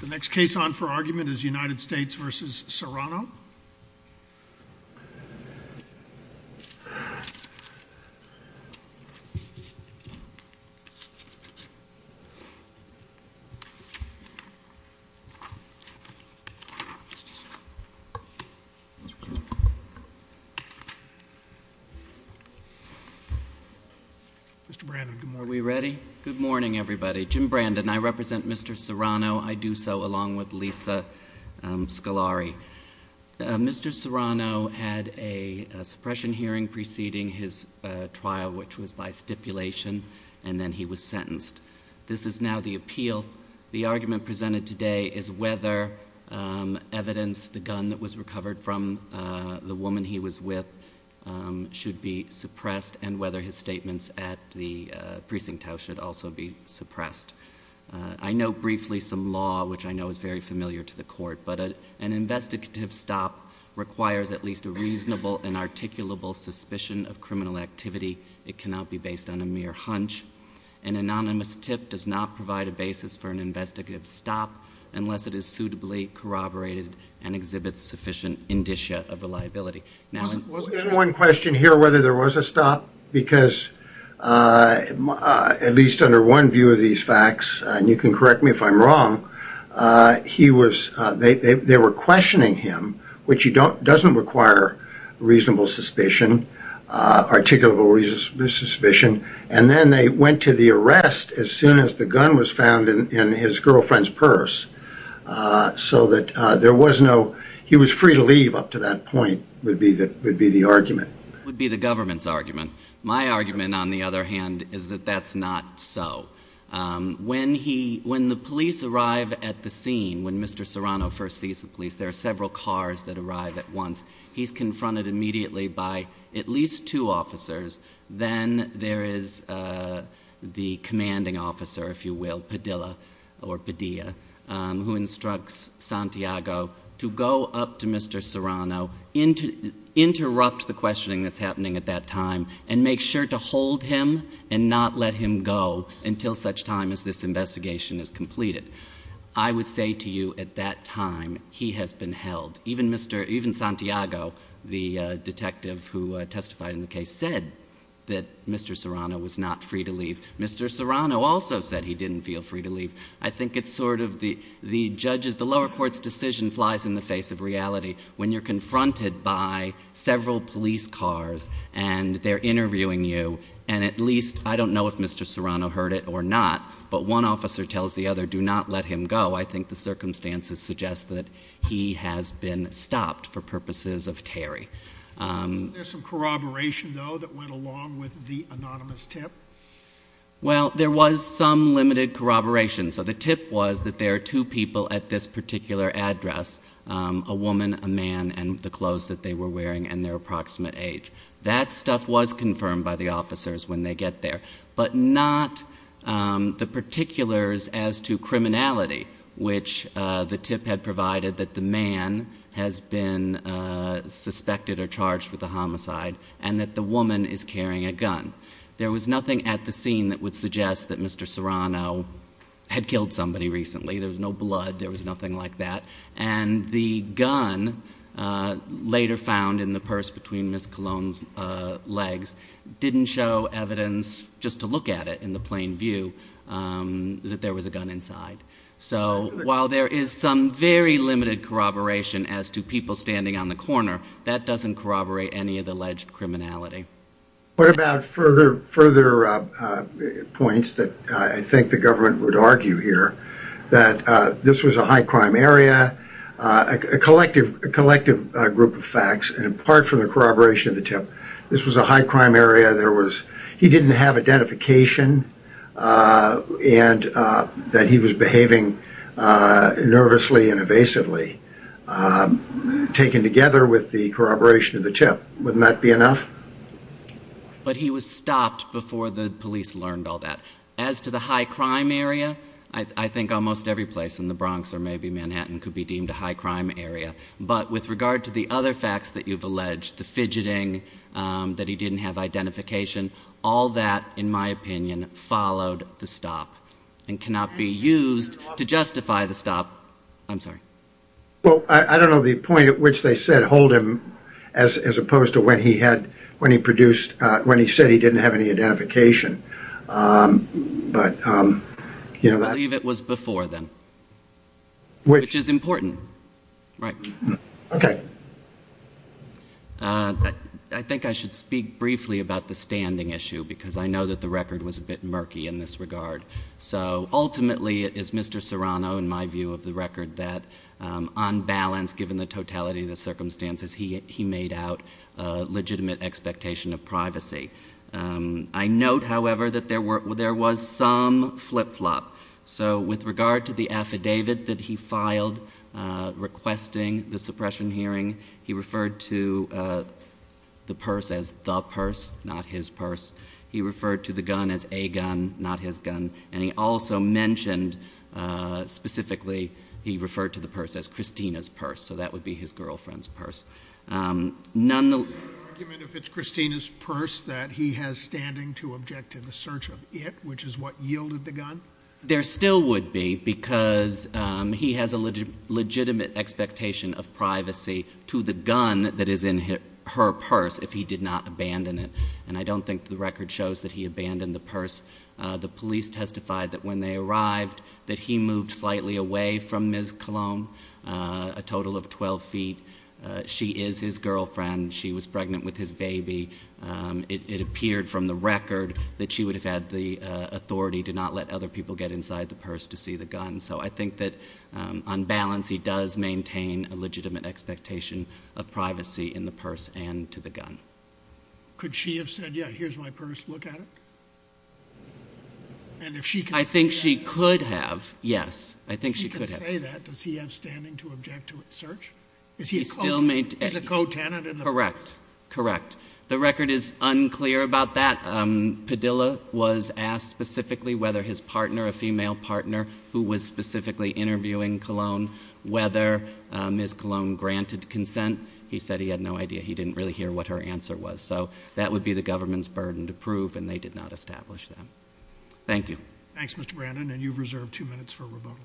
The next case on for argument is United States v. Serrano. Are we ready? Good morning, everybody. Jim Brandon. I represent Mr. Serrano. I do so along with Lisa Scolari. Mr. Serrano had a suppression hearing preceding his trial, which was by stipulation, and then he was sentenced. This is now the appeal. The argument presented today is whether evidence, the gun that was recovered from the woman he was with, should be suppressed, and whether his statements at the precinct house should also be suppressed. I know briefly some law, which I know is very familiar to the court, but an investigative stop requires at least a reasonable and articulable suspicion of criminal activity. It cannot be based on a mere hunch. An anonymous tip does not provide a basis for an investigative stop unless it is suitably corroborated and exhibits sufficient indicia of reliability. One question here, whether there was a stop, because at least under one view of these facts, and you can correct me if I'm wrong, they were questioning him, which doesn't require reasonable suspicion, articulable suspicion, and then they went to the arrest as soon as the gun was found in his girlfriend's purse, so that there was no, he was free to leave up to that point, would be the argument. That would be the government's argument. My argument, on the other hand, is that that's not so. When the police arrive at the scene, when Mr. Serrano first sees the police, there are several cars that arrive at once. He's confronted immediately by at least two officers. Then there is the commanding officer, if you will, Padilla or Padilla, who instructs Santiago to go up to Mr. Serrano, interrupt the questioning that's happening at that time, and make sure to hold him and not let him go until such time as this investigation is completed. I would say to you, at that time, he has been held. Even Santiago, the detective who testified in the case, said that Mr. Serrano was not free to leave. Mr. Serrano also said he didn't feel free to leave. I think it's sort of the judge's, the lower court's decision flies in the face of reality. When you're confronted by several police cars, and they're interviewing you, and at least, I don't know if Mr. Serrano heard it or not, but one officer tells the other, do not let him go. I think the circumstances suggest that he has been stopped for purposes of Terry. Is there some corroboration, though, that went along with the anonymous tip? Well, there was some limited corroboration. So the tip was that there are two people at this particular address, a woman, a man, and the clothes that they were wearing, and their approximate age. That stuff was confirmed by the officers when they get there, but not the particulars as to criminality, which the tip had provided that the man has been suspected or charged with a homicide, and that the woman is carrying a gun. There was nothing at the scene that would suggest that Mr. Serrano had killed somebody recently. There was no blood. There was nothing like that. And the gun, later found in the purse between Ms. Colon's legs, didn't show evidence, just to look at it in the plain view, that there was a gun inside. So while there is some very limited corroboration as to people standing on the corner, that doesn't corroborate any of the alleged criminality. What about further points that I think the government would argue here? That this was a high-crime area, a collective group of facts, and apart from the corroboration of the tip, this was a high-crime area. He didn't have identification, and that he was behaving nervously and evasively, taken together with the corroboration of the tip. Wouldn't that be enough? But he was stopped before the police learned all that. As to the high-crime area, I think almost every place in the Bronx or maybe Manhattan could be deemed a high-crime area. But with regard to the other facts that you've alleged, the fidgeting, that he didn't have identification, all that, in my opinion, followed the stop and cannot be used to justify the stop. I'm sorry. Well, I don't know the point at which they said hold him as opposed to when he said he didn't have any identification. I believe it was before then, which is important. Right. Okay. I think I should speak briefly about the standing issue because I know that the record was a bit murky in this regard. So ultimately, it is Mr. Serrano, in my view of the record, that on balance, given the totality of the circumstances, he made out a legitimate expectation of privacy. I note, however, that there was some flip-flop. So with regard to the affidavit that he filed requesting the suppression hearing, he referred to the purse as the purse, not his purse. He referred to the gun as a gun, not his gun. And he also mentioned, specifically, he referred to the purse as Christina's purse. So that would be his girlfriend's purse. Is there an argument if it's Christina's purse that he has standing to object to the search of it, which is what yielded the gun? There still would be because he has a legitimate expectation of privacy to the gun that is in her purse if he did not abandon it. And I don't think the record shows that he abandoned the purse. The police testified that when they arrived, that he moved slightly away from Ms. Colom, a total of 12 feet. She is his girlfriend. She was pregnant with his baby. It appeared from the record that she would have had the authority to not let other people get inside the purse to see the gun. And so I think that, on balance, he does maintain a legitimate expectation of privacy in the purse and to the gun. Could she have said, yeah, here's my purse, look at it? I think she could have, yes. I think she could have. If she could say that, does he have standing to object to its search? Is he a co-tenant in the purse? Correct. Correct. The record is unclear about that. Padilla was asked specifically whether his partner, a female partner who was specifically interviewing Colom, whether Ms. Colom granted consent. He said he had no idea. He didn't really hear what her answer was. So that would be the government's burden to prove, and they did not establish that. Thank you. Thanks, Mr. Brandon. And you've reserved two minutes for rebuttal.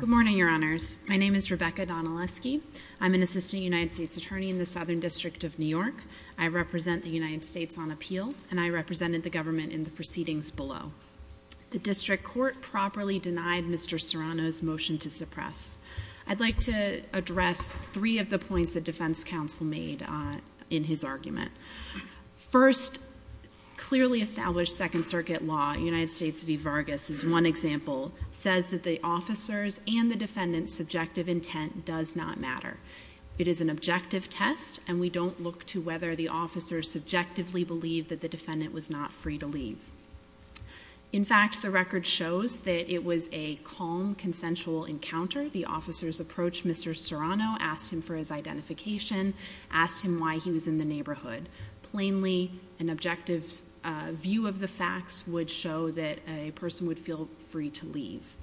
Good morning, Your Honors. My name is Rebecca Donaleski. I'm an assistant United States attorney in the Southern District of New York. I represent the United States on appeal, and I represented the government in the proceedings below. The district court properly denied Mr. Serrano's motion to suppress. I'd like to address three of the points that defense counsel made in his argument. First, clearly established Second Circuit law, United States v. Vargas is one example, says that the officer's and the defendant's subjective intent does not matter. It is an objective test, and we don't look to whether the officer subjectively believed that the defendant was not free to leave. In fact, the record shows that it was a calm, consensual encounter. The officer's approach, Mr. Serrano asked him for his identification, asked him why he was in the neighborhood. Plainly, an objective view of the facts would show that a person would feel free to leave.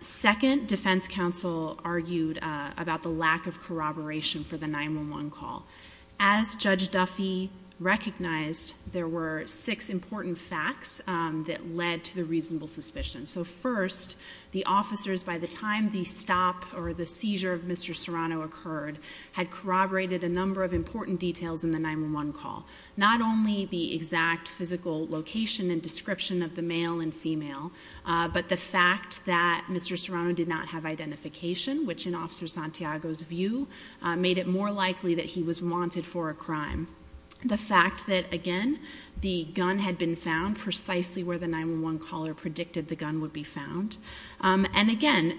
Second, defense counsel argued about the lack of corroboration for the 911 call. As Judge Duffy recognized, there were six important facts that led to the reasonable suspicion. So first, the officers, by the time the stop or the seizure of Mr. Serrano occurred, had corroborated a number of important details in the 911 call. Not only the exact physical location and description of the male and female, but the fact that Mr. Serrano did not have identification, which in Officer Santiago's view, made it more likely that he was wanted for a crime. The fact that, again, the gun had been found precisely where the 911 caller predicted the gun would be found. And again,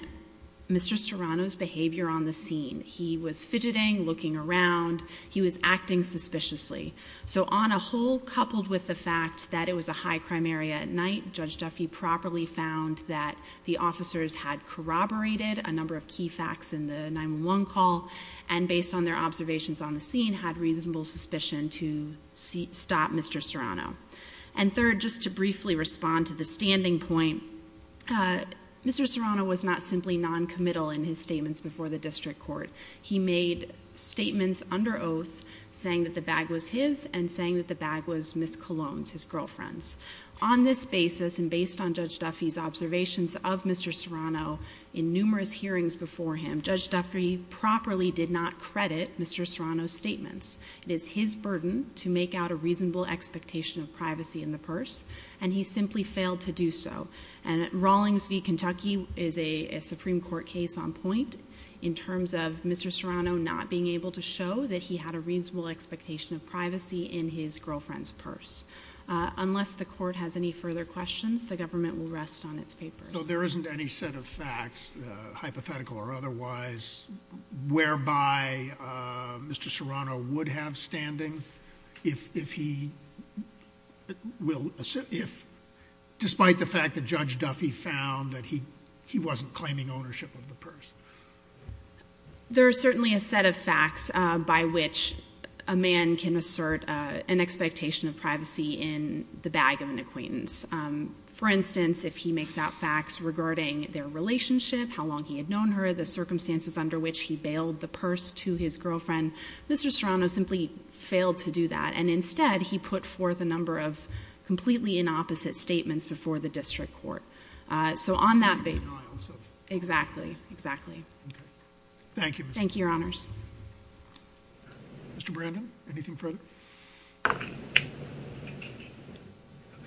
Mr. Serrano's behavior on the scene. He was fidgeting, looking around. He was acting suspiciously. So on a whole, coupled with the fact that it was a high-crime area at night, Judge Duffy properly found that the officers had corroborated a number of key facts in the 911 call and, based on their observations on the scene, had reasonable suspicion to stop Mr. Serrano. And third, just to briefly respond to the standing point, Mr. Serrano was not simply noncommittal in his statements before the district court. He made statements under oath saying that the bag was his and saying that the bag was Ms. Colon's, his girlfriend's. On this basis, and based on Judge Duffy's observations of Mr. Serrano in numerous hearings before him, Judge Duffy properly did not credit Mr. Serrano's statements. It is his burden to make out a reasonable expectation of privacy in the purse, and he simply failed to do so. And Rawlings v. Kentucky is a Supreme Court case on point in terms of Mr. Serrano not being able to show that he had a reasonable expectation of privacy in his girlfriend's purse. Unless the court has any further questions, the government will rest on its papers. No, there isn't any set of facts, hypothetical or otherwise, whereby Mr. Serrano would have standing if he will assert if, despite the fact that Judge Duffy found that he wasn't claiming ownership of the purse. There are certainly a set of facts by which a man can assert an expectation of privacy in the bag of an acquaintance. For instance, if he makes out facts regarding their relationship, how long he had known her, the circumstances under which he bailed the purse to his girlfriend, Mr. Serrano simply failed to do that. And instead, he put forth a number of completely inopposite statements before the district court. So on that basis— You can't deny on such— Exactly, exactly. Okay. Thank you, Mr.— Thank you, Your Honors. Mr. Brandon, anything further?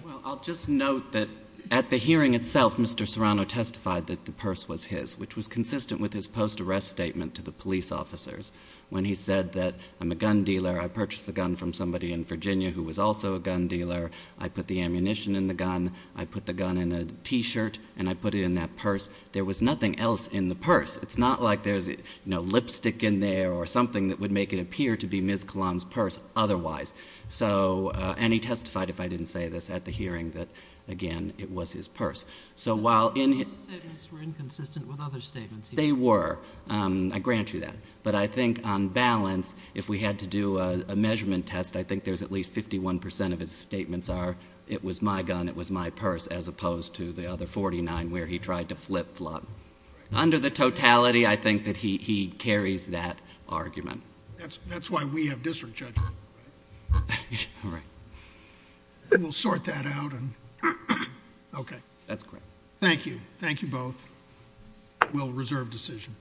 Well, I'll just note that at the hearing itself, Mr. Serrano testified that the purse was his, which was consistent with his post-arrest statement to the police officers. When he said that, I'm a gun dealer. I purchased a gun from somebody in Virginia who was also a gun dealer. I put the ammunition in the gun. I put the gun in a T-shirt, and I put it in that purse. There was nothing else in the purse. It's not like there's lipstick in there or something that would make it appear to be Ms. Kalan's purse otherwise. And he testified, if I didn't say this, at the hearing that, again, it was his purse. So while in— Those statements were inconsistent with other statements he made. They were. I grant you that. But I think on balance, if we had to do a measurement test, I think there's at least 51 percent of his statements are, it was my gun, it was my purse, as opposed to the other 49 where he tried to flip-flop. Under the totality, I think that he carries that argument. That's why we have district judges. All right. And we'll sort that out. Okay. That's correct. Thank you. Thank you both. We'll reserve decision.